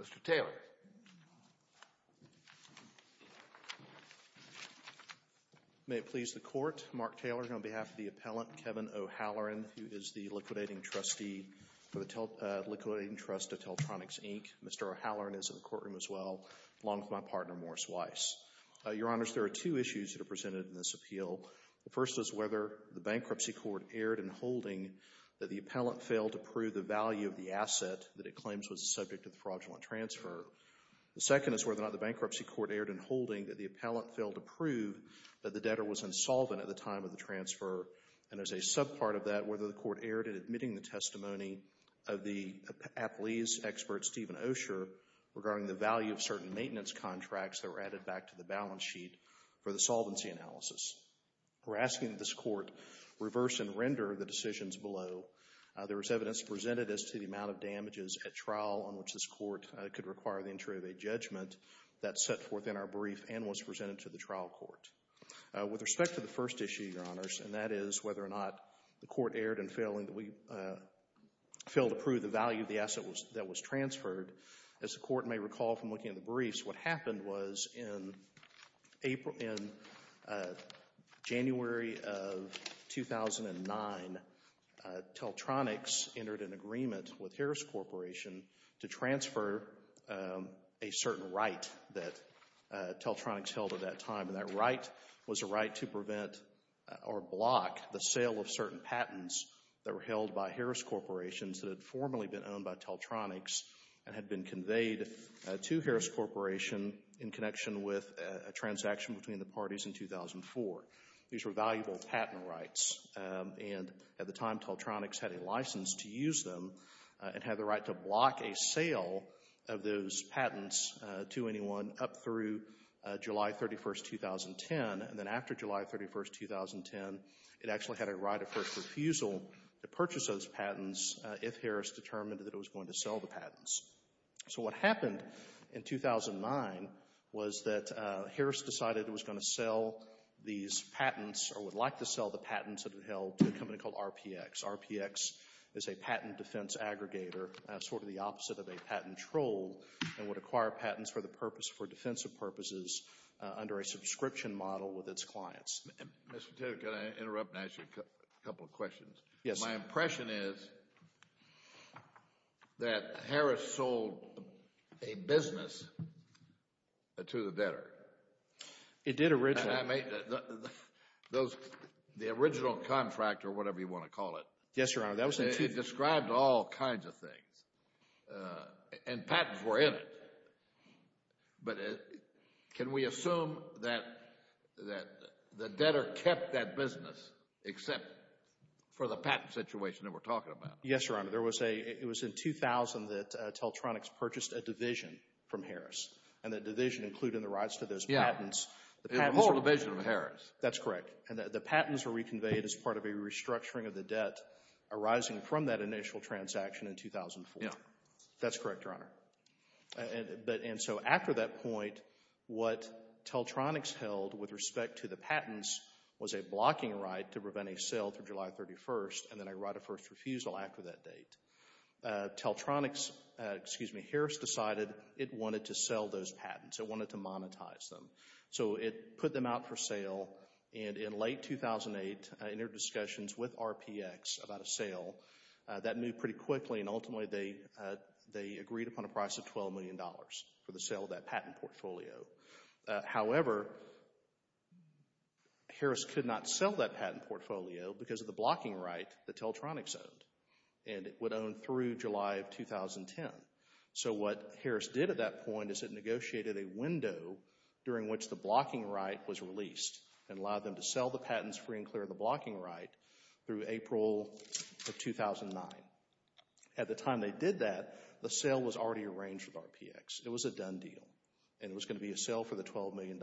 Mr. Taylor. May it please the Court, Mark Taylor on behalf of the appellant, Kevin O'Halloran, who is the liquidating trustee for the Liquidating Trust of Teletronics, Inc. Mr. O'Halloran is in the courtroom as well, along with my partner, Morris Weiss. Your Honors, there are two issues that are presented in this appeal. The first is whether the bankruptcy court erred in holding that the appellant failed to prove the value of the asset that it claims was the subject of the fraudulent transfer. The second is whether or not the bankruptcy court erred in holding that the appellant failed to prove that the debtor was insolvent at the time of the transfer. And as a subpart of that, whether the court erred in admitting the testimony of the appellee's expert, Stephen Osher, regarding the value of certain maintenance contracts that were added back to the balance sheet for the solvency analysis. We're asking that this court reverse and render the decisions below. There was evidence presented as to the amount of damages at trial on which this court could require the entry of a judgment that set forth in our brief and was presented to the trial court. With respect to the first issue, Your Honors, and that is whether or not the court erred in failing to prove the value of the asset that was transferred, as the court may recall from looking at the briefs, what happened was in January of 2009, Teltronics entered an agreement with Harris Corporation to transfer a certain right that Teltronics held at that time. And that right was a right to prevent or block the sale of certain patents that were held by Harris Corporations that had formerly been owned by Teltronics and had been conveyed to Harris Corporation in connection with a transaction between the parties in 2004. These were valuable patent rights. And at the time, Teltronics had a license to use them and had the right to block a sale of those patents to anyone up through July 31, 2010. And then after July 31, 2010, it actually had a right of first refusal to purchase those patents if Harris determined that it was going to sell the patents. So what happened in 2009 was that Harris decided it was going to sell these patents or would like to sell the patents that it held to a company called RPX. RPX is a patent defense aggregator, sort of the opposite of a patent troll, and would acquire patents for defensive purposes under a subscription model with its clients. Mr. Tedder, can I interrupt and ask you a couple of questions? Yes. My impression is that Harris sold a business to the debtor. It did originally. The original contract or whatever you want to call it. Yes, Your Honor. It described all kinds of things. And patents were in it. But can we assume that the debtor kept that business except for the patent situation that we're talking about? Yes, Your Honor. It was in 2000 that Teltronics purchased a division from Harris and that division included the rights to those patents. Yeah. The whole division of Harris. That's correct. And the patents were reconveyed as part of a restructuring of the debt arising from that initial transaction in 2004. Yeah. That's correct, Your Honor. And so after that point, what Teltronics held with respect to the patents was a blocking right to prevent a sale through July 31st and then a right of first refusal after that date. Teltronics, excuse me, Harris decided it wanted to sell those patents. It wanted to monetize them. So it put them out for sale. And in late 2008, in their discussions with RPX about a sale, that moved pretty quickly, and ultimately they agreed upon a price of $12 million for the sale of that patent portfolio. However, Harris could not sell that patent portfolio because of the blocking right that Teltronics owned, and it would own through July of 2010. So what Harris did at that point is it negotiated a window during which the blocking right was released and allowed them to sell the patents free and clear of the blocking right through April of 2009. At the time they did that, the sale was already arranged with RPX. It was a done deal, and it was going to be a sale for the $12 million.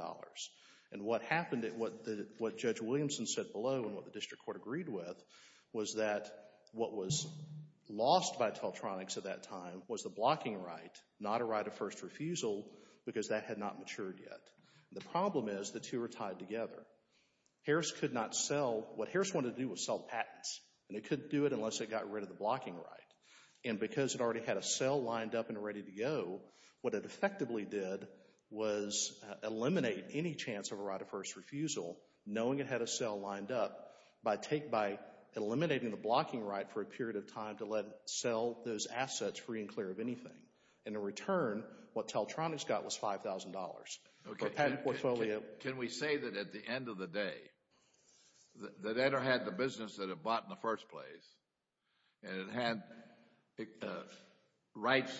And what happened, what Judge Williamson said below and what the district court agreed with was that what was lost by Teltronics at that time was the blocking right, not a right of first refusal, because that had not matured yet. The problem is the two are tied together. Harris could not sell. What Harris wanted to do was sell patents, and it couldn't do it unless it got rid of the blocking right. And because it already had a sale lined up and ready to go, what it effectively did was eliminate any chance of a right of first refusal knowing it had a sale lined up by eliminating the blocking right for a period of time to let it sell those assets free and clear of anything. And in return, what Teltronics got was $5,000 for a patent portfolio. Can we say that at the end of the day, that Enter had the business that it bought in the first place and it had rights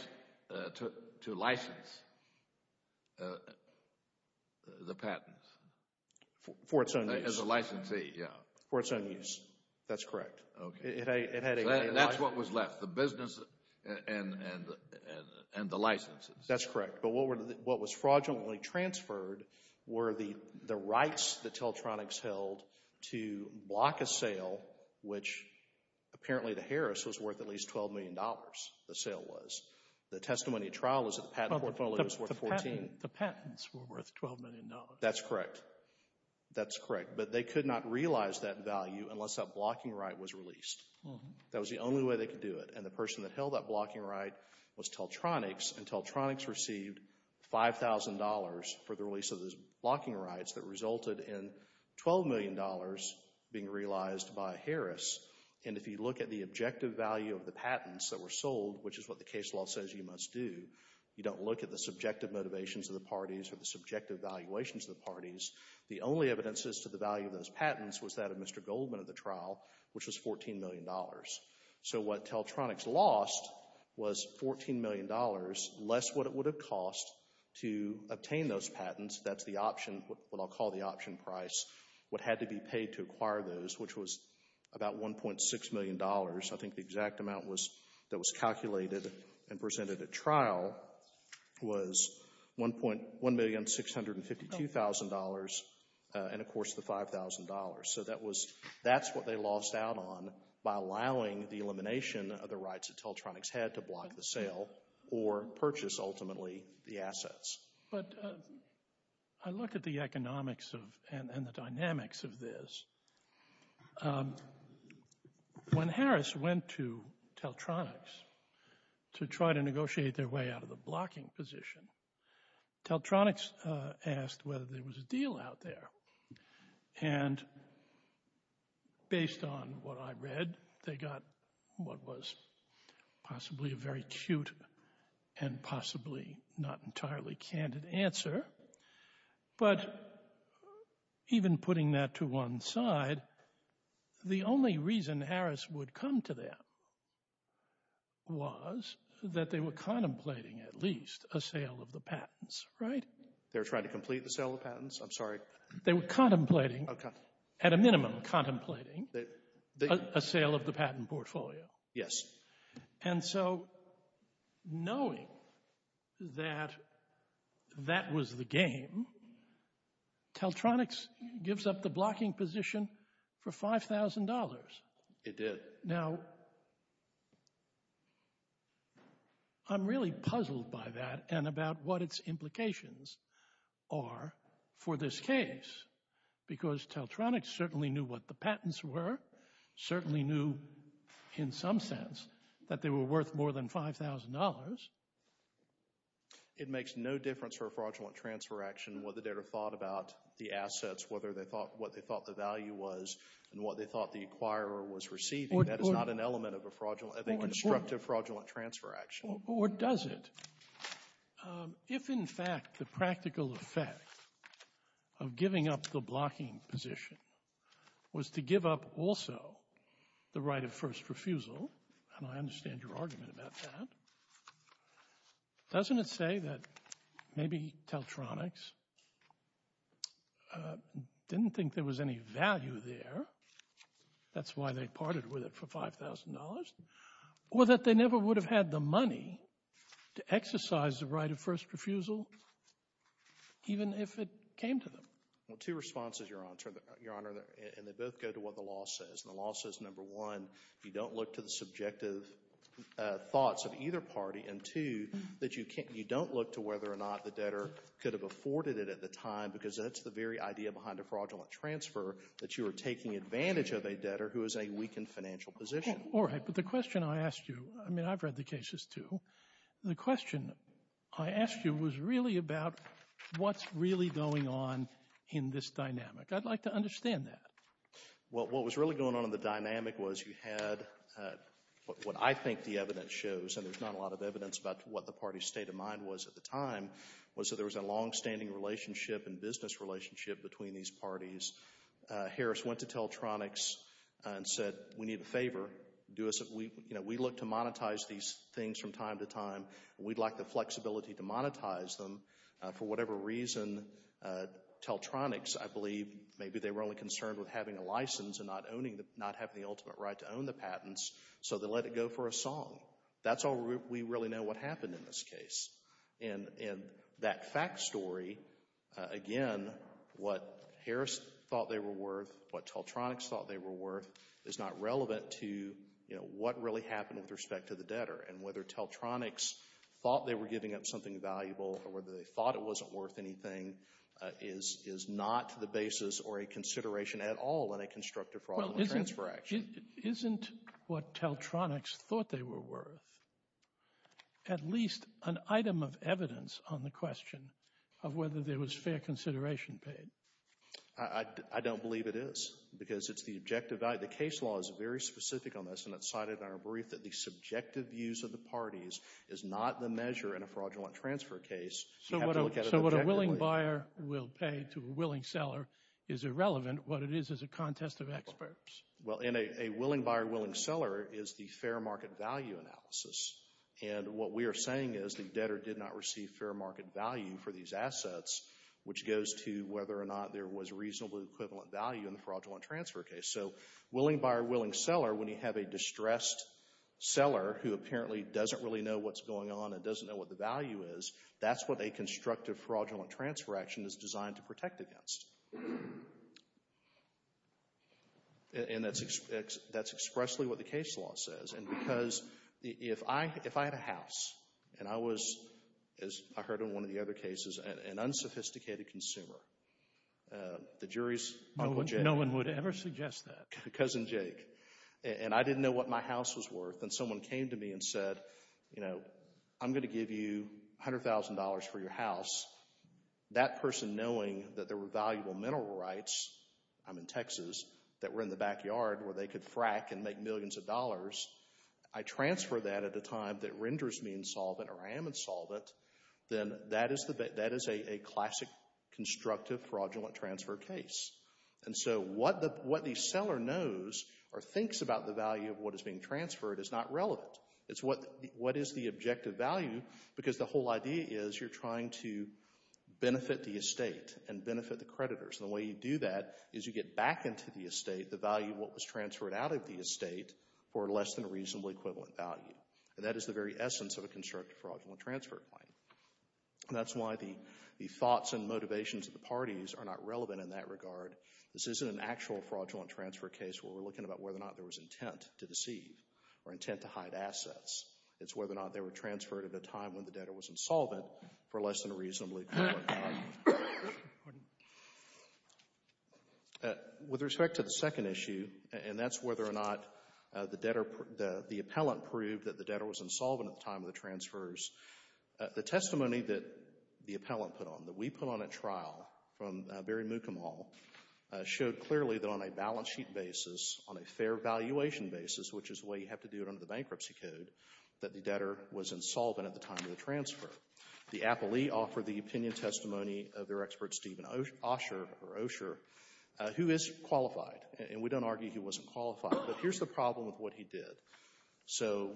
to license the patents? For its own use. As a licensee, yeah. For its own use, that's correct. That's what was left, the business and the licenses. That's correct. But what was fraudulently transferred were the rights that Teltronics held to block a sale which apparently to Harris was worth at least $12 million, the sale was. The testimony at trial was that the patent portfolio was worth $14 million. The patents were worth $12 million. That's correct. That's correct. But they could not realize that value unless that blocking right was released. That was the only way they could do it. And the person that held that blocking right was Teltronics, and Teltronics received $5,000 for the release of those blocking rights that resulted in $12 million being realized by Harris. And if you look at the objective value of the patents that were sold, which is what the case law says you must do, you don't look at the subjective motivations of the parties or the subjective valuations of the parties, the only evidences to the value of those patents was that of Mr. Goldman at the trial, which was $14 million. So what Teltronics lost was $14 million less what it would have cost to obtain those patents. That's the option, what I'll call the option price, what had to be paid to acquire those, which was about $1.6 million. I think the exact amount that was calculated and presented at trial was $1,652,000 and, of course, the $5,000. So that's what they lost out on by allowing the elimination of the rights that Teltronics had to block the sale or purchase, ultimately, the assets. But I look at the economics and the dynamics of this. When Harris went to Teltronics to try to negotiate their way out of the blocking position, Teltronics asked whether there was a deal out there. And based on what I read, they got what was possibly a very cute and possibly not entirely candid answer. But even putting that to one side, the only reason Harris would come to them was that they were contemplating at least a sale of the patents, right? They were trying to complete the sale of the patents? I'm sorry. They were contemplating, at a minimum contemplating, a sale of the patent portfolio. Yes. And so knowing that that was the game, Teltronics gives up the blocking position for $5,000. It did. It did. Now, I'm really puzzled by that and about what its implications are for this case because Teltronics certainly knew what the patents were, certainly knew, in some sense, that they were worth more than $5,000. It makes no difference for a fraudulent transfer action whether they'd have thought about the assets, what they thought the value was and what they thought the acquirer was receiving. That is not an element of a constructive fraudulent transfer action. Or does it? If, in fact, the practical effect of giving up the blocking position was to give up also the right of first refusal, and I understand your argument about that, doesn't it say that maybe Teltronics didn't think there was any value there? That's why they parted with it for $5,000. Or that they never would have had the money to exercise the right of first refusal even if it came to them? Well, two responses, Your Honor, and they both go to what the law says. The law says, number one, you don't look to the subjective thoughts of either party and, two, that you don't look to whether or not the debtor could have afforded it at the time because that's the very idea behind a fraudulent transfer, that you are taking advantage of a debtor who is in a weakened financial position. All right, but the question I asked you, I mean, I've read the cases too, the question I asked you was really about what's really going on in this dynamic. I'd like to understand that. Well, what was really going on in the dynamic was you had what I think the evidence shows, and there's not a lot of evidence about what the party's state of mind was at the time, was that there was a longstanding relationship and business relationship between these parties. Harris went to Teltronics and said, we need a favor. We look to monetize these things from time to time. We'd like the flexibility to monetize them. For whatever reason, Teltronics, I believe, maybe they were only concerned with having a license and not having the ultimate right to own the patents, so they let it go for a song. That's all we really know what happened in this case. And that fact story, again, what Harris thought they were worth, what Teltronics thought they were worth, is not relevant to, you know, what really happened with respect to the debtor and whether Teltronics thought they were giving up something valuable or whether they thought it wasn't worth anything is not the basis or a consideration at all in a constructive fraud and transfer action. Isn't what Teltronics thought they were worth at least an item of evidence on the question of whether there was fair consideration paid? I don't believe it is because it's the objective value. The case law is very specific on this and it's cited in our brief that the subjective views of the parties is not the measure in a fraudulent transfer case. So what a willing buyer will pay to a willing seller is irrelevant. What it is is a contest of experts. Well, in a willing buyer, willing seller is the fair market value analysis. And what we are saying is the debtor did not receive fair market value for these assets, which goes to whether or not there was reasonable equivalent value in the fraudulent transfer case. So willing buyer, willing seller, when you have a distressed seller who apparently doesn't really know what's going on and doesn't know what the value is, that's what a constructive fraudulent transfer action is designed to protect against. And that's expressly what the case law says. And because if I had a house and I was, as I heard in one of the other cases, an unsophisticated consumer, the jury's Uncle Jake. No one would ever suggest that. Cousin Jake. And I didn't know what my house was worth and someone came to me and said, you know, I'm going to give you $100,000 for your house, that person knowing that there were valuable mental rights, I'm in Texas, that were in the backyard where they could frack and make millions of dollars, I transfer that at a time that renders me insolvent or I am insolvent, then that is a classic constructive fraudulent transfer case. And so what the seller knows or thinks about the value of what is being transferred is not relevant. It's what is the objective value, because the whole idea is you're trying to and the way you do that is you get back into the estate the value of what was transferred out of the estate for less than a reasonably equivalent value. And that is the very essence of a constructive fraudulent transfer claim. And that's why the thoughts and motivations of the parties are not relevant in that regard. This isn't an actual fraudulent transfer case where we're looking about whether or not there was intent to deceive or intent to hide assets. It's whether or not they were transferred at a time when the debtor was insolvent for less than a reasonably equivalent value. Pardon me. With respect to the second issue, and that's whether or not the debtor, the appellant proved that the debtor was insolvent at the time of the transfers, the testimony that the appellant put on, that we put on at trial from Barry Mukumal, showed clearly that on a balance sheet basis, on a fair valuation basis, which is the way you have to do it under the bankruptcy code, that the debtor was insolvent at the time of the transfer. The appellee offered the opinion testimony of their expert, Stephen Osher, who is qualified. And we don't argue he wasn't qualified. But here's the problem with what he did. So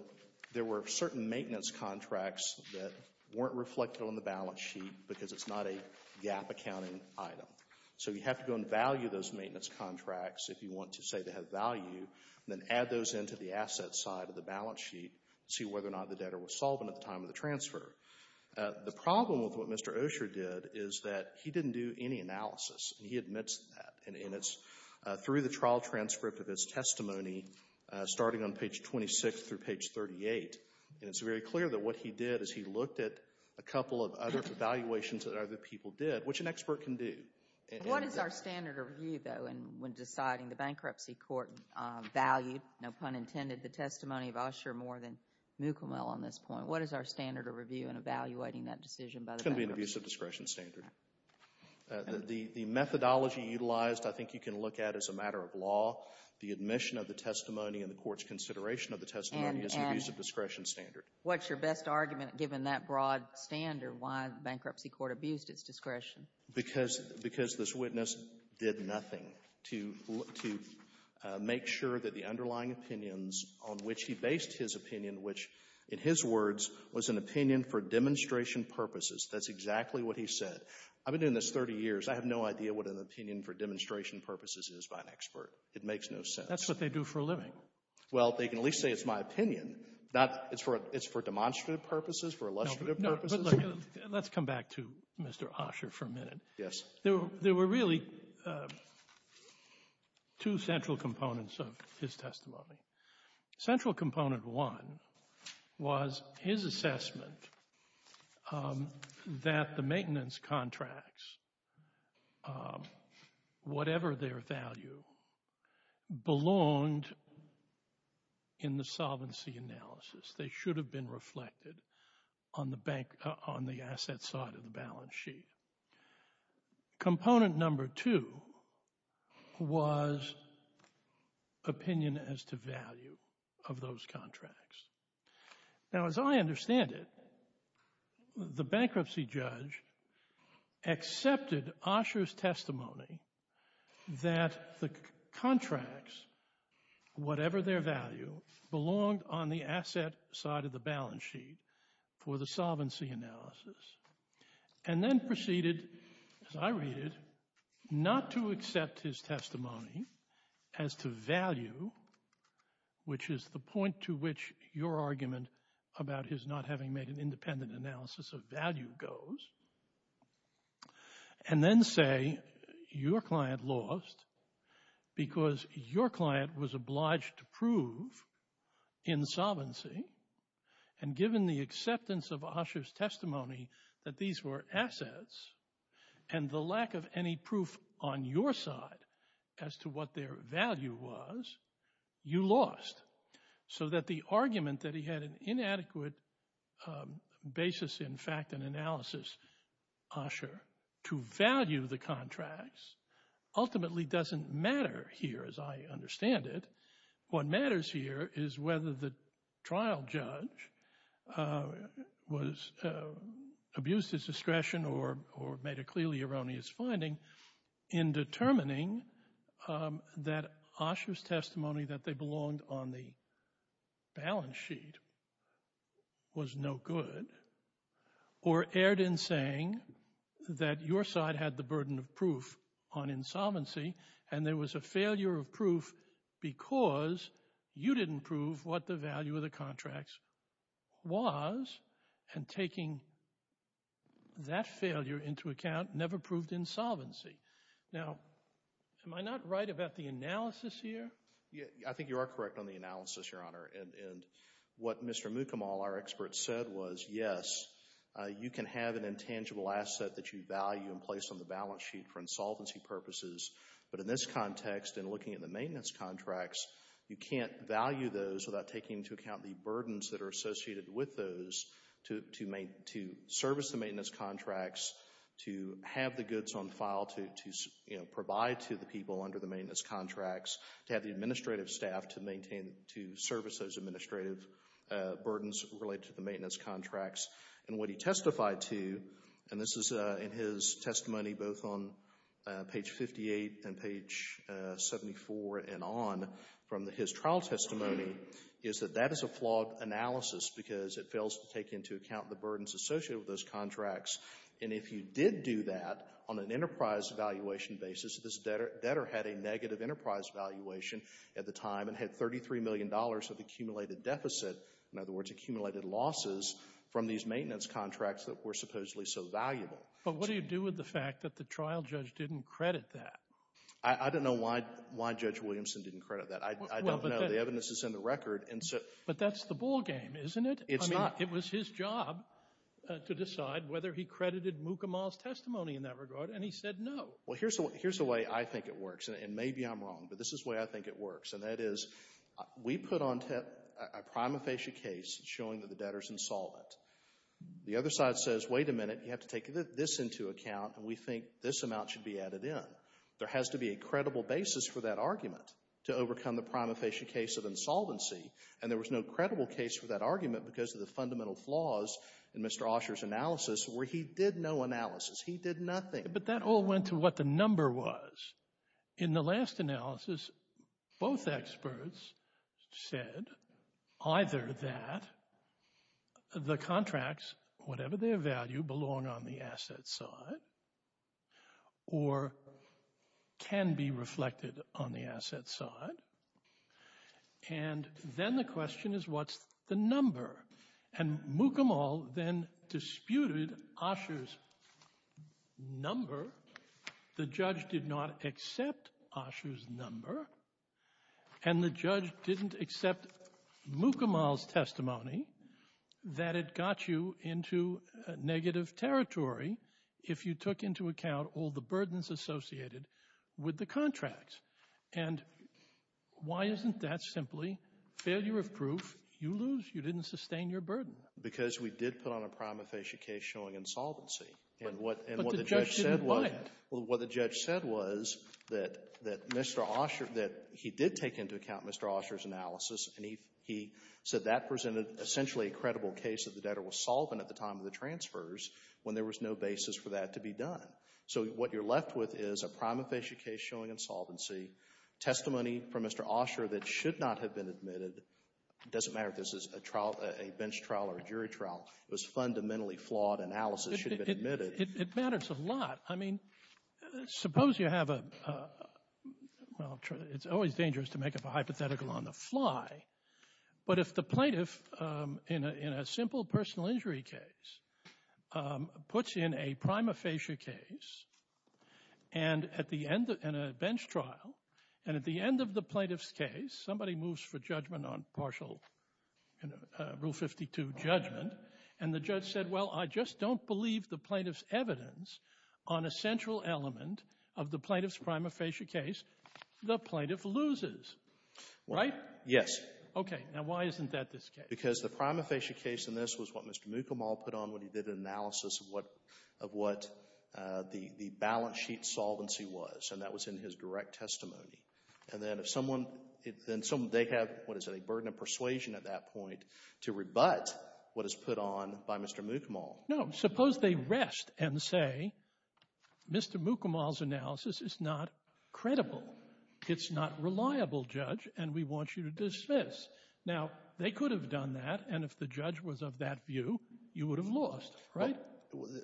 there were certain maintenance contracts that weren't reflected on the balance sheet because it's not a GAAP accounting item. So you have to go and value those maintenance contracts if you want to say they have value, and then add those into the assets side of the balance sheet to see whether or not the debtor was solvent at the time of the transfer. The problem with what Mr. Osher did is that he didn't do any analysis. He admits that. And it's through the trial transcript of his testimony, starting on page 26 through page 38, and it's very clear that what he did is he looked at a couple of other evaluations that other people did, which an expert can do. What is our standard of view, though, when deciding the bankruptcy court valued, no pun intended, the testimony of Osher more than Mukumel on this point? What is our standard of review in evaluating that decision by the bankruptcy court? It's going to be an abuse of discretion standard. The methodology utilized I think you can look at as a matter of law. The admission of the testimony and the court's consideration of the testimony is an abuse of discretion standard. And what's your best argument, given that broad standard, why the bankruptcy court abused its discretion? Because this witness did nothing to make sure that the underlying opinions on which he based his opinion, which in his words was an opinion for demonstration purposes. That's exactly what he said. I've been doing this 30 years. I have no idea what an opinion for demonstration purposes is by an expert. It makes no sense. That's what they do for a living. Well, they can at least say it's my opinion, not it's for demonstrative purposes, for illustrative purposes. No, but let's come back to Mr. Osher for a minute. Yes. There were really two central components of his testimony. Central component one was his assessment that the maintenance contracts, whatever their value, belonged in the solvency analysis. They should have been reflected on the bank, on the asset side of the balance sheet. Component number two was opinion as to value of those contracts. Now, as I understand it, the bankruptcy judge accepted Osher's testimony that the contracts, whatever their value, belonged on the asset side of the balance sheet for the solvency analysis and then proceeded, as I read it, not to accept his testimony as to value, which is the point to which your argument about his not having made an independent analysis of value goes, and then say your client lost because your client was obliged to prove insolvency and given the acceptance of Osher's testimony that these were assets and the lack of any proof on your side as to what their value was, you lost. So that the argument that he had an inadequate basis in fact and analysis, Osher, to value the contracts ultimately doesn't matter here, as I understand it. What matters here is whether the trial judge abused his discretion or made a clearly erroneous finding in determining that Osher's testimony that they belonged on the balance sheet was no good or erred in saying that your side had the burden of proof on insolvency and there was a failure of proof because you didn't prove what the value of the contracts was and taking that failure into account never proved insolvency. Now, am I not right about the analysis here? I think you are correct on the analysis, Your Honor, and what Mr. Mukamal, our expert, said was, yes, you can have an intangible asset that you value and place on the balance sheet for insolvency purposes, but in this context, in looking at the maintenance contracts, you can't value those without taking into account the burdens that are associated with those to service the maintenance contracts, to have the goods on file, to provide to the people under the maintenance contracts, to have the administrative staff to service those administrative burdens related to the maintenance contracts. And what he testified to, and this is in his testimony both on page 58 and page 74 and on, from his trial testimony, is that that is a flawed analysis because it fails to take into account the burdens associated with those contracts and if you did do that on an enterprise valuation basis, this debtor had a negative enterprise valuation at the time and had $33 million of accumulated deficit, in other words, accumulated losses from these maintenance contracts that were supposedly so valuable. But what do you do with the fact that the trial judge didn't credit that? I don't know why Judge Williamson didn't credit that. I don't know. The evidence is in the record and so... But that's the ballgame, isn't it? It's not. It was his job to decide whether he credited Mukamal's testimony in that regard and he said no. Well, here's the way I think it works and maybe I'm wrong, but this is the way I think it works and that is we put on a prima facie case showing that the debtor's insolvent. The other side says, wait a minute, you have to take this into account and we think this amount should be added in. There has to be a credible basis for that argument to overcome the prima facie case of insolvency and there was no credible case for that argument because of the fundamental flaws in Mr. Osher's analysis where he did no analysis. He did nothing. But that all went to what the number was. In the last analysis, both experts said either that the contracts, whatever their value, belong on the asset side or can be reflected on the asset side and then the question is what's the number and Mukamal then disputed Osher's number. The judge did not accept Osher's number and the judge didn't accept Mukamal's testimony that it got you into negative territory if you took into account all the burdens associated with the contract and why isn't that simply failure of proof? You lose, you didn't sustain your burden. Because we did put on a prima facie case showing insolvency and what the judge said was that Mr. Osher, that he did take into account Mr. Osher's analysis and he said that presented essentially a credible case that the debtor was solvent at the time of the transfers when there was no basis for that to be done. So what you're left with is a prima facie case showing insolvency, testimony from Mr. Osher that should not have been admitted, it doesn't matter if this is a trial, a bench trial or a jury trial, it was fundamentally flawed analysis. It matters a lot. I mean, suppose you have a, well, it's always dangerous to make up a hypothetical on the fly, but if the plaintiff in a simple personal injury case puts in a prima facie case and a bench trial and at the end of the plaintiff's case somebody moves for judgment on partial Rule 52 judgment and the judge said, well, I just don't believe the plaintiff's evidence on a central element of the plaintiff's prima facie case, the plaintiff loses. Right? Yes. Okay, now why isn't that this case? Because the prima facie case in this was what Mr. Mukamal put on when he did an analysis of what the balance sheet solvency was and that was in his direct testimony. And then if someone, they have, what is it, a burden of persuasion at that point to rebut what is put on by Mr. Mukamal? No, suppose they rest and say, Mr. Mukamal's analysis is not credible. It's not reliable, Judge, and we want you to dismiss. Now, they could have done that and if the judge was of that view, you would have lost. Right?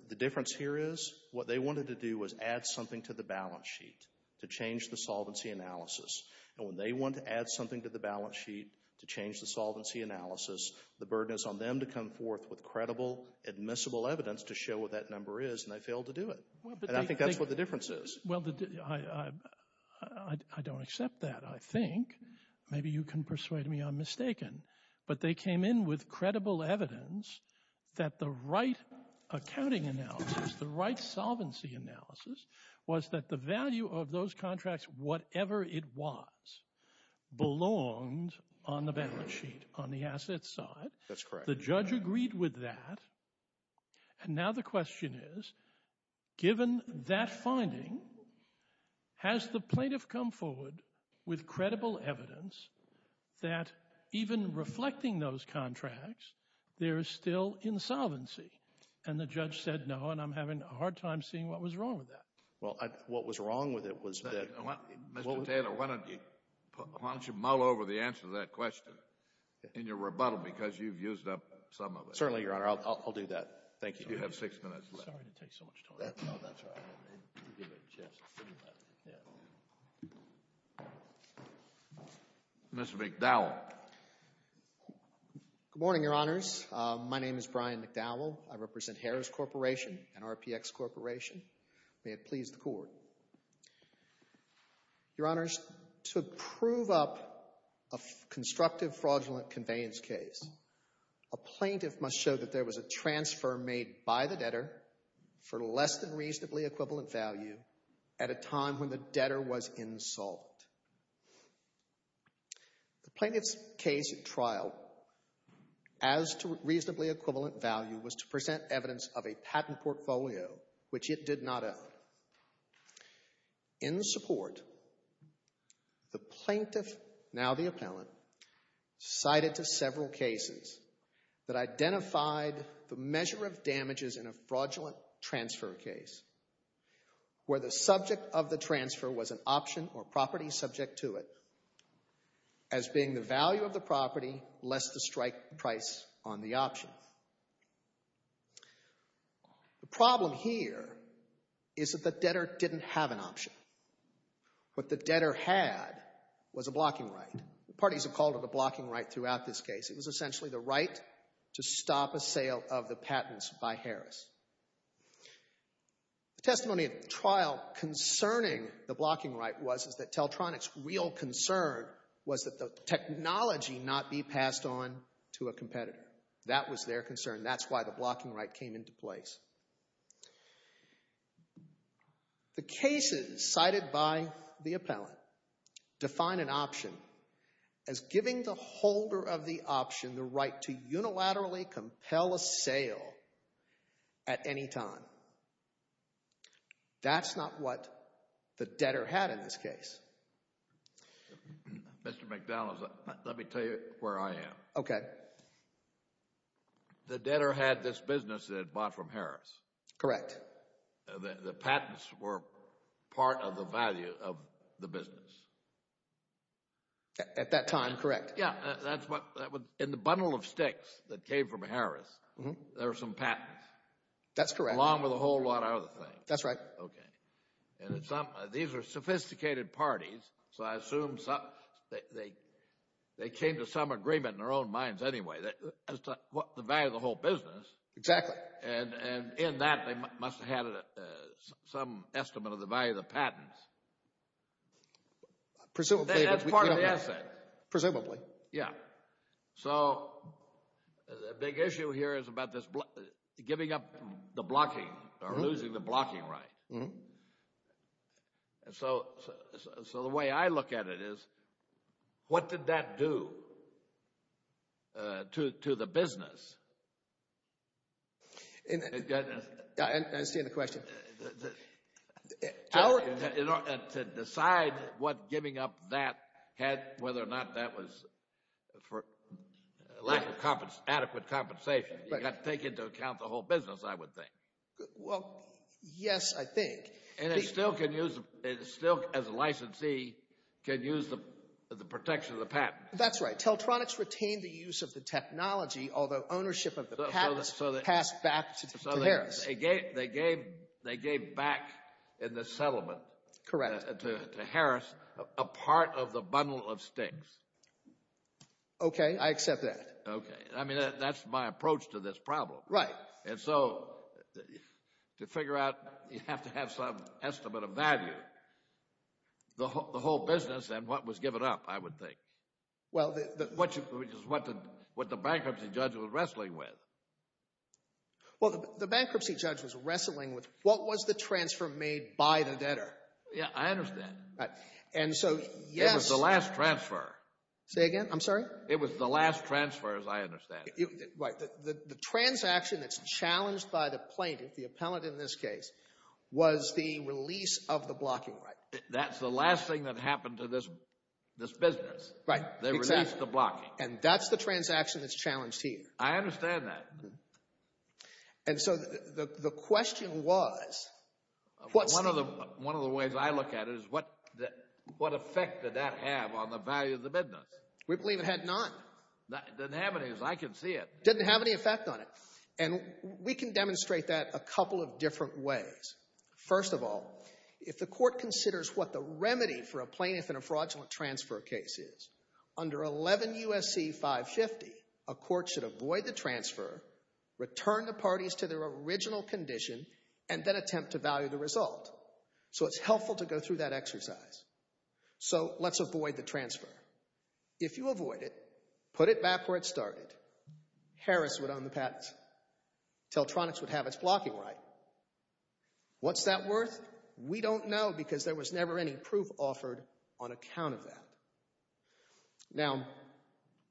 The difference here is what they wanted to do was add something to the balance sheet to change the solvency analysis. And when they want to add something to the balance sheet to change the solvency analysis, the burden is on them to come forth with credible, admissible evidence to show what that number is and they failed to do it. And I think that's what the difference is. Well, I don't accept that, I think. Maybe you can persuade me I'm mistaken. But they came in with credible evidence that the right accounting analysis, the right solvency analysis was that the value of those contracts, whatever it was, belonged on the balance sheet, on the asset side. That's correct. The judge agreed with that. And now the question is, given that finding, has the plaintiff come forward with credible evidence that even reflecting those contracts, there is still insolvency? And the judge said no, and I'm having a hard time seeing what was wrong with that. Well, what was wrong with it was that... Why don't you mull over the answer to that question in your rebuttal, because you've used up some of it. Certainly, Your Honor. I'll do that. Thank you. You have six minutes left. Sorry to take so much time. Mr. McDowell. Good morning, Your Honors. My name is Brian McDowell. I represent Harris Corporation and RPX Corporation. May it please the Court. Your Honors, to prove up a constructive fraudulent conveyance case, a plaintiff must show that there was a transfer made by the debtor for less than reasonably equivalent value at a time when the debtor was insolvent. The plaintiff's case trial, as to reasonably equivalent value, was to present evidence of a patent portfolio which it did not own. In the support, the plaintiff, now the appellant, cited to several cases that identified the measure of damages in a fraudulent transfer case where the subject of the transfer was an option or property subject to it as being the value of the property less the strike price on the option. The problem here is that the debtor didn't have an option. What the debtor had was a blocking right. Parties have called it a blocking right throughout this case. It was essentially the right to stop a sale of the patents by Harris. The testimony of the trial concerning the blocking right was that Teltronic's real concern was that the technology not be passed on to a competitor. That was their concern. That's why the blocking right came into place. The cases cited by the appellant define an option as giving the holder of the option the right to unilaterally compel a sale at any time. That's not what the debtor had in this case. Mr. McDonald, let me tell you where I am. Okay. The debtor had this business that he had bought from Harris. Correct. The patents were part of the value of the business. At that time, correct. Yeah, that's what... In the bundle of sticks that came from Harris, there were some patents. That's correct. Along with a whole lot of other things. That's right. Okay. These are sophisticated parties, so I assume they came to some agreement in their own minds anyway as to the value of the whole business. Exactly. And in that, they must have had some estimate of the value of the patents. Presumably. That's part of the asset. Presumably. Yeah. So, the big issue here is about this giving up the blocking or losing the blocking right. So, the way I look at it is what did that do? To the business. I understand the question. To decide what giving up that had, whether or not that was for lack of adequate compensation, you've got to take into account the whole business, I would think. Well, yes, I think. can use the protection of the patent. That's right. Teltronics retained the use of the technology, although ownership of the patents passed back to Harris. They gave back in the settlement to Harris a part of the bundle of sticks. Okay, I accept that. Okay. I mean, that's my approach to this problem. Right. And so, to figure out, you have to have some estimate of value. The whole business and what was given up, I would think. Well, the... Which is what the bankruptcy judge was wrestling with. Well, the bankruptcy judge was wrestling with what was the transfer made by the debtor. Yeah, I understand. And so, yes... It was the last transfer. Say again? I'm sorry? It was the last transfer, as I understand it. Right. The transaction that's challenged by the plaintiff, the appellant in this case, was the release of the blocking right. That's the last thing that happened to this business. Right, exactly. They released the blocking. And that's the transaction that's challenged here. I understand that. And so, the question was... One of the ways I look at it is what effect did that have on the value of the business? We believe it had none. It didn't have any, as I can see it. It didn't have any effect on it. And we can demonstrate that a couple of different ways. First of all, if the court considers what the remedy for a plaintiff in a fraudulent transfer case is, under 11 U.S.C. 550, a court should avoid the transfer, return the parties to their original condition, and then attempt to value the result. So, it's helpful to go through that exercise. So, let's avoid the transfer. If you avoid it, put it back where it started. Harris would own the patents. Teltronics would have its blocking right. What's that worth? We don't know because there was never any proof offered on account of that. Now,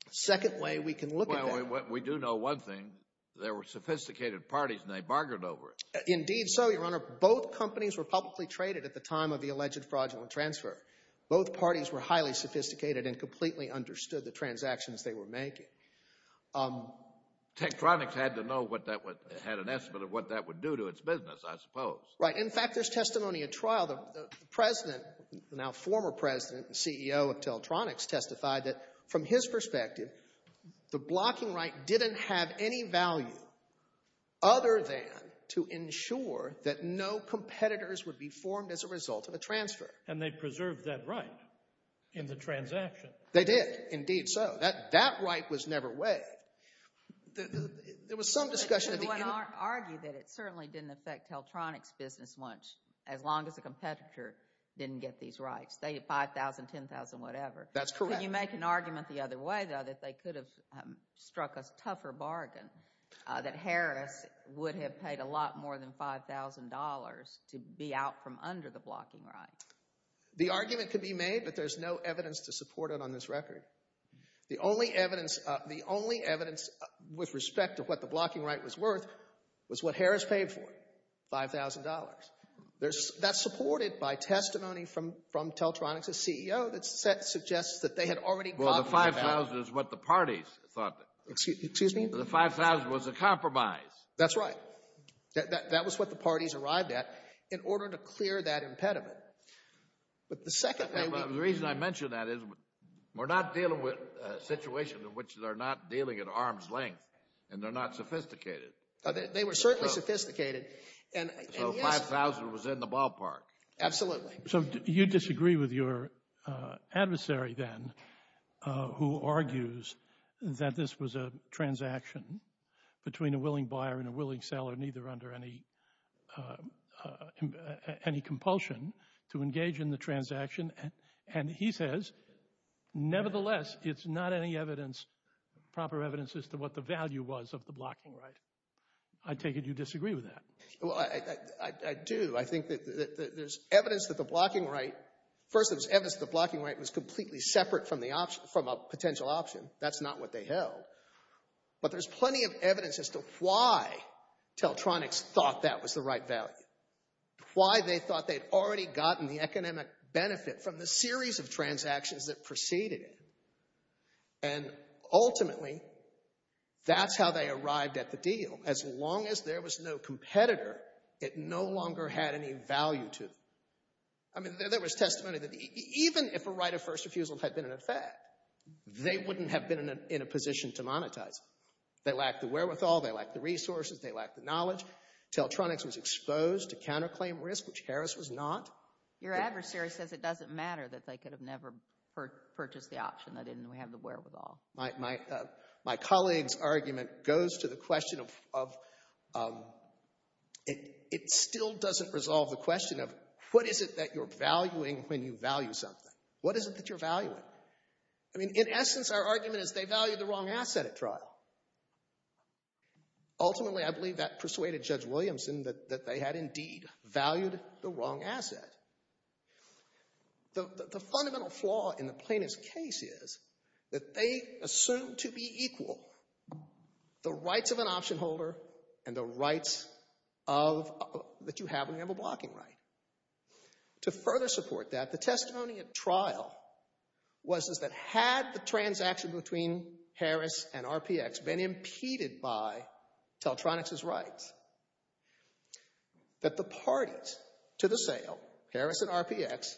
the second way we can look at that... Well, we do know one thing. There were sophisticated parties and they bargained over it. Indeed so, Your Honor. Both companies were publicly traded at the time of the alleged fraudulent transfer. Both parties were highly sophisticated and completely understood the transactions they were making. Teltronics had an estimate of what that would do to its business, I suppose. Right. In fact, there's testimony at trial. The president, the now former president and CEO of Teltronics, testified that, from his perspective, the blocking right didn't have any value other than to ensure that no competitors would be formed as a result of a transfer. And they preserved that right in the transaction. They did. Indeed so. That right was never waived. There was some discussion... But you would argue that it certainly didn't affect Teltronics' business as long as the competitor didn't get these rights. They had $5,000, $10,000, whatever. That's correct. Can you make an argument the other way, though, that they could have struck a tougher bargain, that Harris would have paid a lot more than $5,000 to be out from under the blocking right? The argument could be made, but there's no evidence to support it on this record. The only evidence with respect to what the blocking right was worth was what Harris paid for, $5,000. That's supported by testimony from Teltronics' CEO that suggests that they had already... Well, the $5,000 is what the parties thought. Excuse me? The $5,000 was a compromise. That's right. That was what the parties arrived at in order to clear that impediment. But the reason I mention that is we're not dealing with a situation in which they're not dealing at arm's length and they're not sophisticated. They were certainly sophisticated. So $5,000 was in the ballpark. Absolutely. So you disagree with your adversary, then, who argues that this was a transaction between a willing buyer and a willing seller, neither under any compulsion, to engage in the transaction. And he says, nevertheless, it's not any evidence, proper evidence, as to what the value was of the blocking right. I take it you disagree with that. Well, I do. I think that there's evidence that the blocking right... First, there's evidence that the blocking right was completely separate from a potential option. That's not what they held. But there's plenty of evidence as to why Teltronics thought that was the right value. Why they thought they'd already gotten the economic benefit from the series of transactions that preceded it. And ultimately, that's how they arrived at the deal. As long as there was no competitor, it no longer had any value to them. I mean, there was testimony that even if a right of first refusal had been in effect, they wouldn't have been in a position to monetize it. They lacked the wherewithal. They lacked the resources. They lacked the knowledge. Teltronics was exposed to counterclaim risk, which Harris was not. Your adversary says it doesn't matter that they could have never purchased the option. They didn't have the wherewithal. My colleague's argument goes to the question of... It still doesn't resolve the question of what is it that you're valuing when you value something? What is it that you're valuing? I mean, in essence, our argument is they valued the wrong asset at trial. Ultimately, I believe that persuaded Judge Williamson that they had indeed valued the wrong asset. The fundamental flaw in the plaintiff's case is that they assumed to be equal the rights of an option holder and the rights that you have when you have a blocking right. To further support that, the testimony at trial was that had the transaction between Harris and RPX been impeded by Teltronics' rights, that the parties to the sale, Harris and RPX,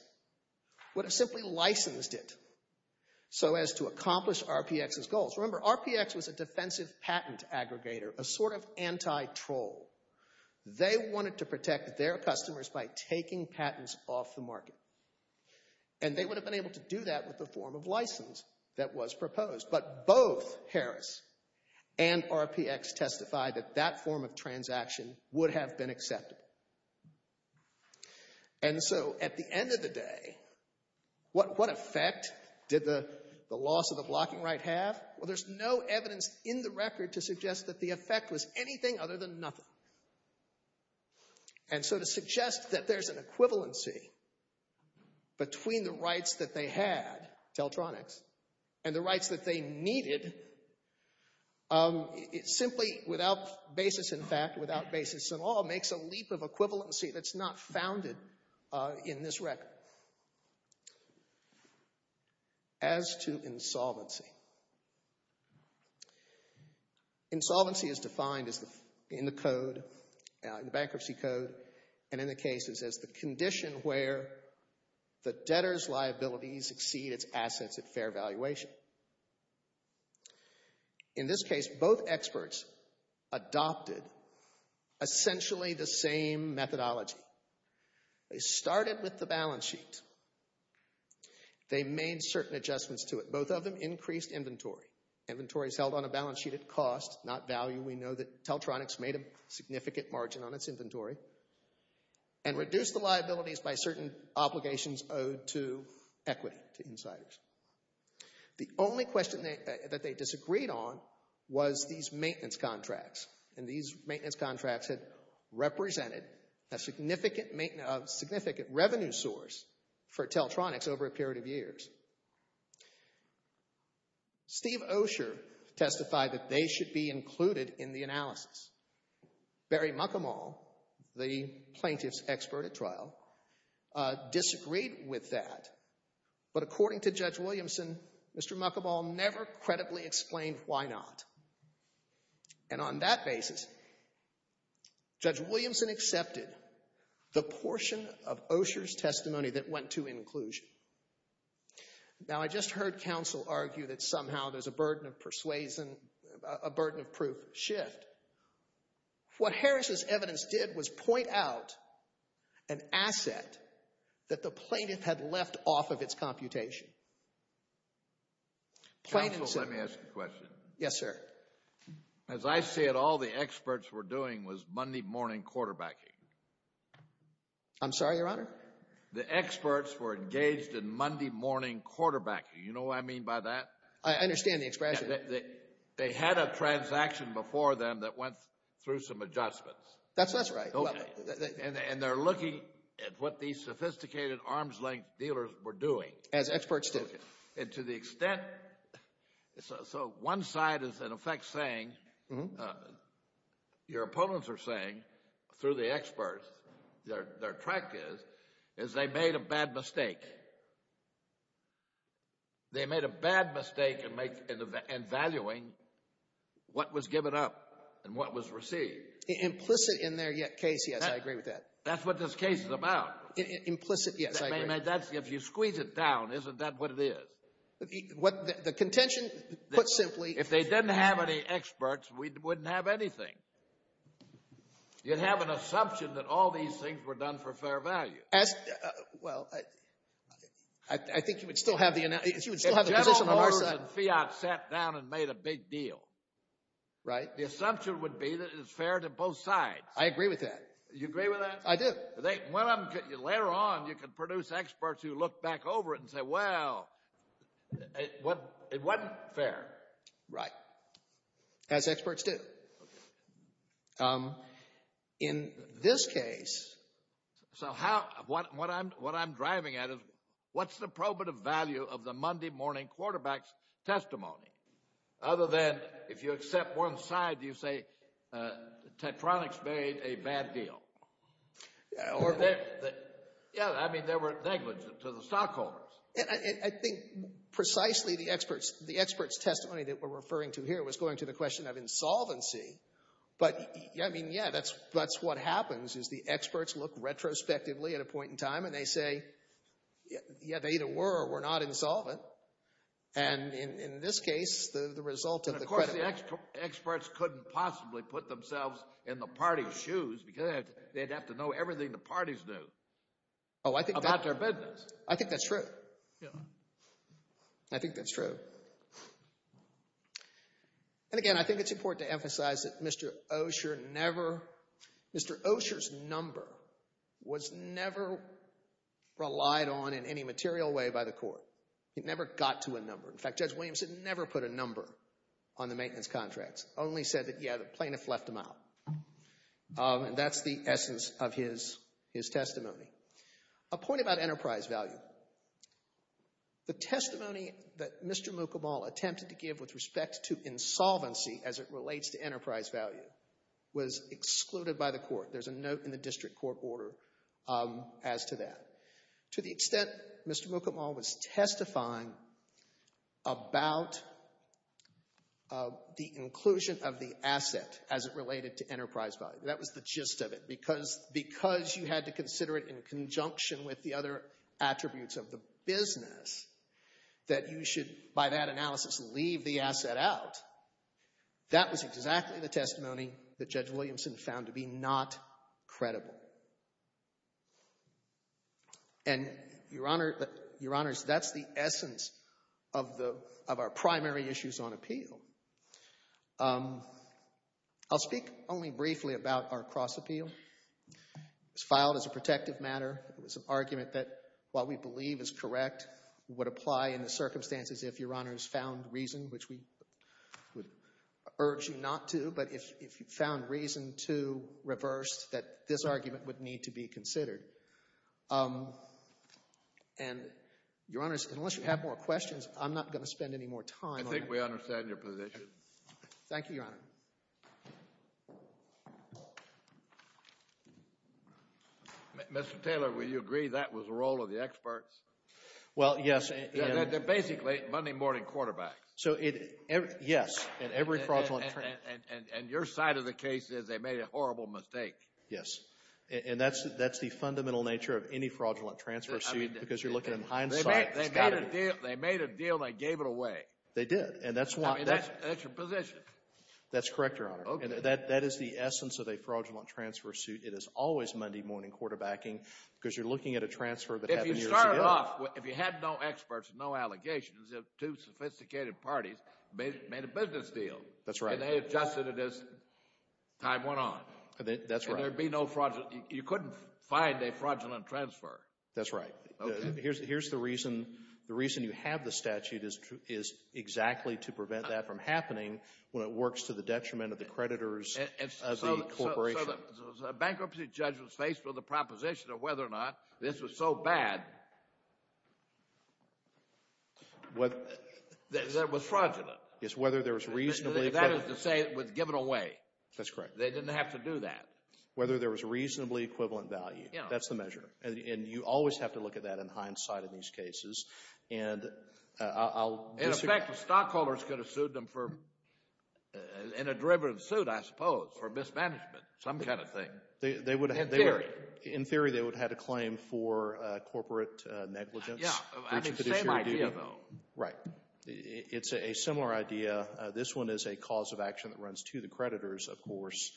would have simply licensed it so as to accomplish RPX's goals. Remember, RPX was a defensive patent aggregator, a sort of anti-troll. They wanted to protect their customers by taking patents off the market. And they would have been able to do that with the form of license that was proposed. But both Harris and RPX testified that that form of transaction would have been accepted. And so, at the end of the day, what effect did the loss of the blocking right have? Well, there's no evidence in the record to suggest that the effect was anything other than nothing. And so to suggest that there's an equivalency between the rights that they had, Teltronics, and the rights that they needed, simply without basis in fact, without basis at all, makes a leap of equivalency that's not founded in this record. As to insolvency. Insolvency is defined in the code, in the bankruptcy code, and in the cases as the condition where the debtor's liabilities exceed its assets at fair valuation. In this case, both experts adopted essentially the same methodology. They started with the balance sheet. They made certain adjustments to it. Both of them increased inventory. Inventory is held on a balance sheet at cost, not value. We know that Teltronics made a significant margin on its inventory. And reduced the liabilities by certain obligations owed to equity, to insiders. The only question that they disagreed on was these maintenance contracts. And these maintenance contracts had represented a significant revenue source for Teltronics over a period of years. Steve Osher testified that they should be included in the analysis. Barry Muckamal, the plaintiff's expert at trial, disagreed with that. But according to Judge Williamson, Mr. Muckamal never credibly explained why not. And on that basis, Judge Williamson accepted the portion of Osher's testimony that went to inclusion. Now, I just heard counsel argue that somehow there's a burden of proof shift. What Harris's evidence did was point out an asset that the plaintiff had left off of its computation. Counsel, let me ask you a question. Yes, sir. As I see it, all the experts were doing was Monday morning quarterbacking. I'm sorry, Your Honor? The experts were engaged in Monday morning quarterbacking. You know what I mean by that? I understand the expression. They had a transaction before them that went through some adjustments. That's right. And they're looking at what these sophisticated arms-length dealers were doing. As experts do. And to the extent... So one side is, in effect, saying... Your opponents are saying, through the experts, their track is, is they made a bad mistake. They made a bad mistake in valuing what was given up and what was received. Implicit in their case, yes, I agree with that. That's what this case is about. Implicit, yes, I agree. If you squeeze it down, isn't that what it is? The contention, put simply... If they didn't have any experts, we wouldn't have anything. You'd have an assumption that all these things were done for fair value. Well, I think you would still have the position on our side. If General Motors and Fiat sat down and made a big deal, the assumption would be that it's fair to both sides. I agree with that. You agree with that? I do. Later on, you could produce experts who look back over it and say, well, it wasn't fair. Right. As experts do. In this case... So what I'm driving at is, what's the probative value of the Monday morning quarterback's testimony? Other than, if you accept one side, you say, Tektronix made a bad deal. Yeah, I mean, they were negligent to the stockholders. I think precisely the experts' testimony that we're referring to here was going to the question of insolvency. But, I mean, yeah, that's what happens is the experts look retrospectively at a point in time and they say, yeah, they either were or were not insolvent. And in this case, the result of the credit... And, of course, the experts couldn't possibly put themselves in the party's shoes because they'd have to know everything the parties knew about their business. I think that's true. I think that's true. And, again, I think it's important to emphasize that Mr. Osher never... Mr. Osher's number was never relied on in any material way by the court. It never got to a number. In fact, Judge Williamson never put a number on the maintenance contracts, only said that, yeah, the plaintiff left them out. And that's the essence of his testimony. A point about enterprise value. The testimony that Mr. Mukamal attempted to give with respect to insolvency as it relates to enterprise value was excluded by the court. There's a note in the district court order as to that. To the extent Mr. Mukamal was testifying about the inclusion of the asset as it related to enterprise value. That was the gist of it. Because you had to consider it in conjunction with the other attributes of the business that you should, by that analysis, leave the asset out. That was exactly the testimony that Judge Williamson found to be not credible. And, Your Honors, that's the essence of our primary issues on appeal. I'll speak only briefly about our cross-appeal. It was filed as a protective matter. It was an argument that, while we believe is correct, would apply in the circumstances if Your Honors found reason, which we would urge you not to, but if you found reason to reverse, that this argument would need to be considered. And, Your Honors, unless you have more questions, I'm not going to spend any more time on that. I think we understand your position. Thank you, Your Honor. Mr. Taylor, will you agree that was the role of the experts? Well, yes. They're basically Monday morning quarterbacks. So, yes. And your side of the case is they made a horrible mistake. Yes. And that's the fundamental nature of any fraudulent transfer suit, because you're looking in hindsight. They made a deal and they gave it away. They did. That's your position. That's correct, Your Honor. That is the essence of a fraudulent transfer suit. It is always Monday morning quarterbacking, because you're looking at a transfer that happened years ago. If you started off, if you had no experts, no allegations, two sophisticated parties made a business deal. That's right. And they adjusted it as time went on. That's right. And there'd be no fraudulent. You couldn't find a fraudulent transfer. That's right. Here's the reason. The reason you have the statute is exactly to prevent that from happening when it works to the detriment of the creditors of the corporation. So the bankruptcy judge was faced with a proposition of whether or not this was so bad that it was fraudulent. Yes, whether there was reasonably equivalent. That is to say it was given away. That's correct. They didn't have to do that. Whether there was reasonably equivalent value. Yes. That's the measure. And you always have to look at that in hindsight in these cases. And I'll disagree. In effect, the stockholders could have sued them for, in a derivative suit, I suppose, for mismanagement, some kind of thing. In theory. In theory, they would have had a claim for corporate negligence. Yes. I think the same idea, though. Right. It's a similar idea. This one is a cause of action that runs to the creditors, of course,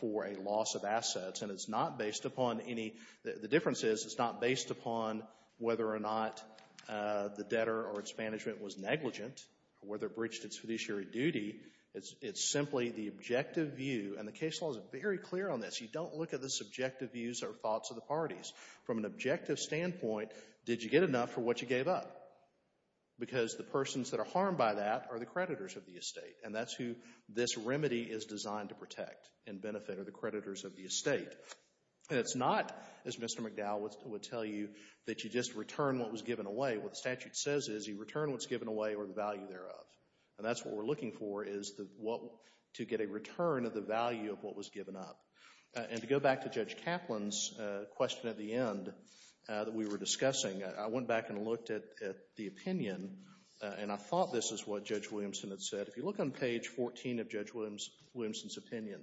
for a loss of assets. And it's not based upon any — the difference is it's not based upon whether or not the debtor or its management was negligent or whether it breached its fiduciary duty. It's simply the objective view. And the case law is very clear on this. You don't look at the subjective views or thoughts of the parties. From an objective standpoint, did you get enough for what you gave up? Because the persons that are harmed by that are the creditors of the estate. And that's who this remedy is designed to protect and benefit, are the creditors of the estate. And it's not, as Mr. McDowell would tell you, that you just return what was given away. What the statute says is you return what's given away or the value thereof. And that's what we're looking for is to get a return of the value of what was given up. And to go back to Judge Kaplan's question at the end that we were discussing, I went back and looked at the opinion, and I thought this is what Judge Williamson had said. If you look on page 14 of Judge Williamson's opinion,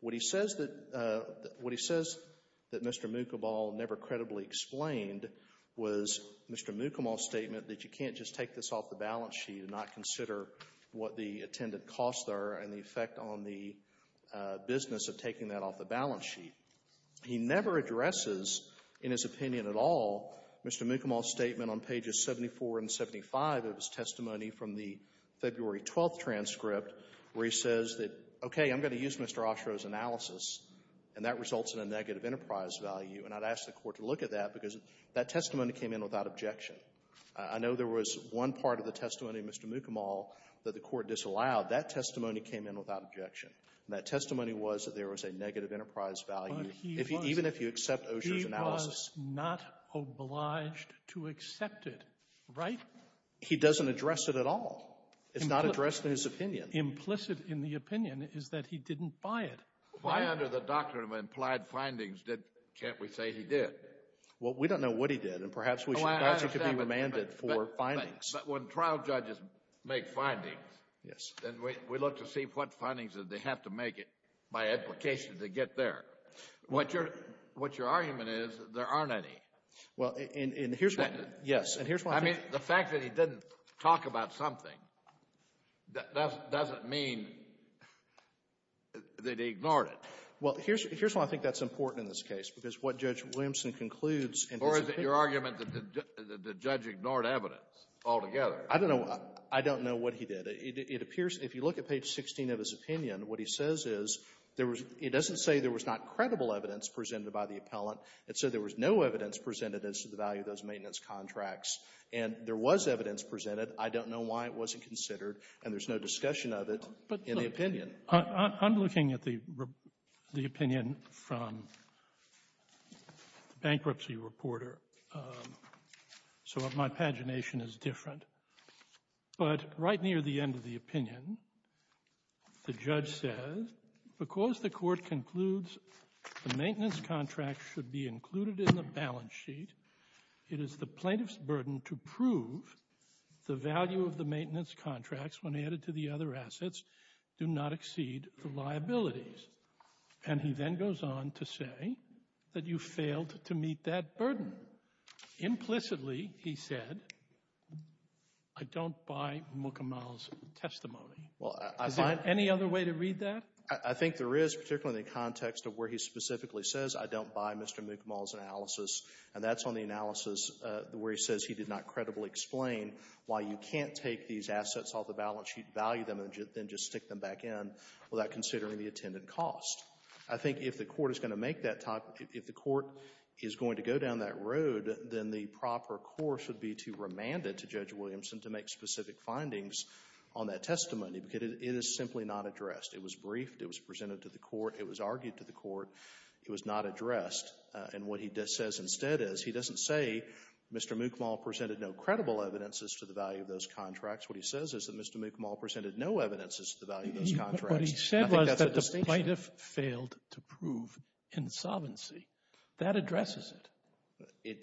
what he says that Mr. Mukamal never credibly explained was Mr. Mukamal's statement that you can't just take this off the balance sheet and not consider what the attendant costs are and the effect on the business of taking that off the balance sheet. He never addresses, in his opinion at all, Mr. Mukamal's statement on pages 74 and 75 of his testimony from the February 12th transcript where he says that, okay, I'm going to use Mr. Oshiro's analysis, and that results in a negative enterprise value. And I'd ask the Court to look at that because that testimony came in without objection. I know there was one part of the testimony of Mr. Mukamal that the Court disallowed. That testimony came in without objection. And that testimony was that there was a negative enterprise value, even if you accept Oshiro's analysis. Sotomayor, he was not obliged to accept it, right? He doesn't address it at all. It's not addressed in his opinion. Implicit in the opinion is that he didn't buy it. Why under the doctrine of implied findings can't we say he did? Well, we don't know what he did, and perhaps we should ask if he could be remanded for findings. But when trial judges make findings, then we look to see what findings they have to make it by application to get there. What your argument is, there aren't any. Well, and here's why. I mean, the fact that he didn't talk about something doesn't mean that they ignored it. Well, here's why I think that's important in this case, because what Judge Williamson concludes in his opinion — Or is it your argument that the judge ignored evidence altogether? I don't know. I don't know what he did. It appears, if you look at page 16 of his opinion, what he says is there was — he doesn't say there was not credible evidence presented by the appellant. It said there was no evidence presented as to the value of those maintenance contracts. And there was evidence presented. I don't know why it wasn't considered. And there's no discussion of it in the opinion. I'm looking at the opinion from the bankruptcy reporter. So my pagination is different. But right near the end of the opinion, the judge says, because the court concludes the maintenance contract should be included in the value of the maintenance contracts when added to the other assets do not exceed the liabilities. And he then goes on to say that you failed to meet that burden. Implicitly, he said, I don't buy Mukamal's testimony. Well, I find — Is there any other way to read that? I think there is, particularly in the context of where he specifically says, I don't buy Mr. Mukamal's analysis. And that's on the analysis where he says he did not credibly explain why you can't take these assets off the balance sheet, value them, and then just stick them back in without considering the attendant cost. I think if the court is going to make that type — if the court is going to go down that road, then the proper course would be to remand it to Judge Williamson to make specific findings on that testimony. Because it is simply not addressed. It was briefed. It was presented to the court. It was argued to the court. It was not addressed. And what he says instead is, he doesn't say Mr. Mukamal presented no credible evidences to the value of those contracts. What he says is that Mr. Mukamal presented no evidences to the value of those contracts. I think that's a distinction. What he said was that the plaintiff failed to prove insolvency. That addresses it.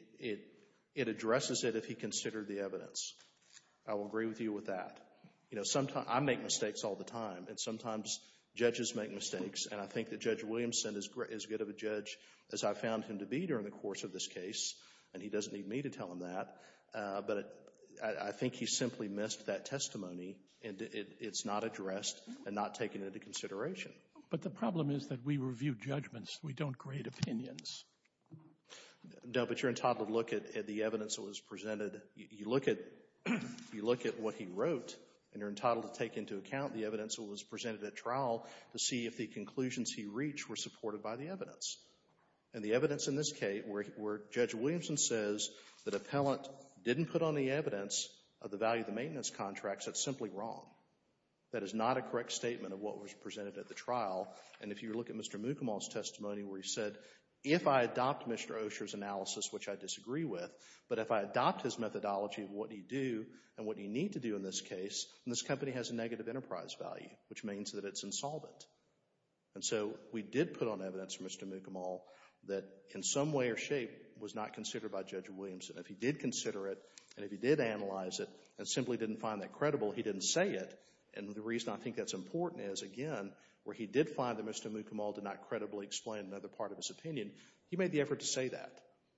It addresses it if he considered the evidence. I will agree with you with that. You know, sometimes — I make mistakes all the time. And sometimes judges make mistakes. And I think that Judge Williamson is as good of a judge as I found him to be during the course of this case. And he doesn't need me to tell him that. But I think he simply missed that testimony, and it's not addressed and not taken into consideration. But the problem is that we review judgments. We don't grade opinions. No, but you're entitled to look at the evidence that was presented. You look at — you look at what he wrote, and you're entitled to take into account the evidence that was presented at trial to see if the conclusions he reached were supported by the evidence. And the evidence in this case where Judge Williamson says that appellant didn't put on the evidence of the value of the maintenance contracts, that's simply wrong. That is not a correct statement of what was presented at the trial. And if you look at Mr. Mukamal's testimony where he said, if I adopt Mr. Osher's analysis, which I disagree with, but if I adopt his methodology of what he'd do and what he'd need to do in this case, then this company has a negative enterprise value, which means that it's insolvent. And so we did put on evidence for Mr. Mukamal that in some way or shape was not considered by Judge Williamson. If he did consider it and if he did analyze it and simply didn't find that credible, he didn't say it. And the reason I think that's important is, again, where he did find that Mr. Mukamal did not credibly explain another part of his opinion, he made the effort to say that.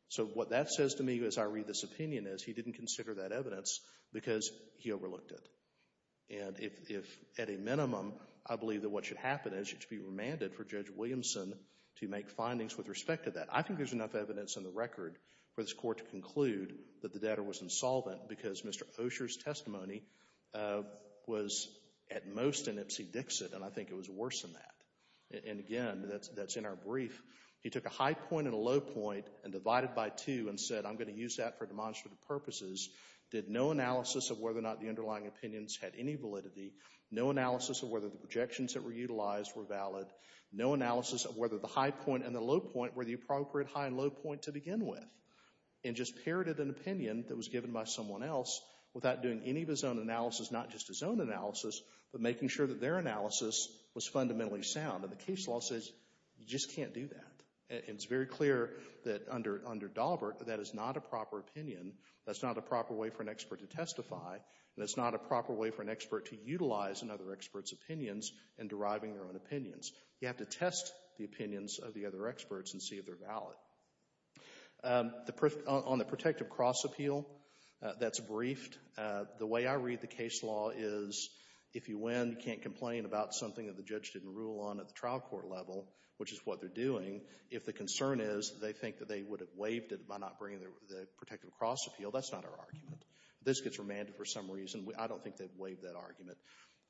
So what that says to me as I read this opinion is he didn't consider that evidence because he overlooked it. And if, at a minimum, I believe that what should happen is it should be remanded for Judge Williamson to make findings with respect to that. I think there's enough evidence in the record for this Court to conclude that the debtor was insolvent because Mr. Osher's testimony was at most an ipsy-dixit, and I think it was worse than that. And, again, that's in our brief. He took a high point and a low point and divided by two and said, I'm going to use that for demonstrative purposes. Did no analysis of whether or not the underlying opinions had any validity. No analysis of whether the projections that were utilized were valid. No analysis of whether the high point and the low point were the appropriate high and low point to begin with. And just parroted an opinion that was given by someone else without doing any of his own analysis, not just his own analysis, but making sure that their analysis was fundamentally sound. And the case law says you just can't do that. And it's very clear that under Daubert that is not a proper opinion. That's not a proper way for an expert to testify, and it's not a proper way for an expert to utilize another expert's opinions in deriving their own opinions. You have to test the opinions of the other experts and see if they're valid. On the protective cross appeal, that's briefed. The way I read the case law is if you win, you can't complain about something that the judge didn't rule on at the trial court level, which is what they're doing. If the concern is they think that they would have waived it by not bringing the protective cross appeal, that's not our argument. If this gets remanded for some reason, I don't think they'd waive that argument.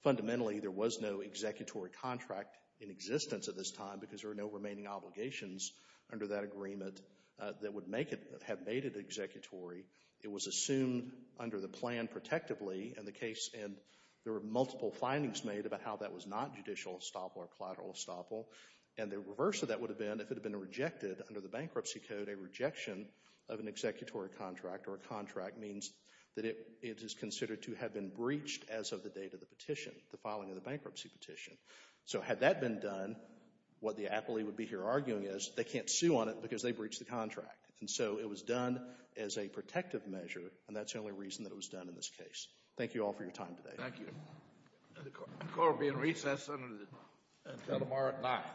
Fundamentally, there was no executory contract in existence at this time because there were no remaining obligations under that agreement that would make it, have made it executory. It was assumed under the plan protectively in the case, and there were multiple findings made about how that was not judicial estoppel or collateral estoppel. And the reverse of that would have been if it had been rejected under the bankruptcy code, a rejection of an executory contract or a contract means that it is considered to have been breached as of the date of the petition, the filing of the bankruptcy petition. So had that been done, what the appellee would be here arguing is they can't sue on it because they breached the contract. And so it was done as a protective measure, and that's the only reason that it was done in this case. Thank you all for your time today. Thank you. The court will be in recess until tomorrow at 9. Thank you. All rise.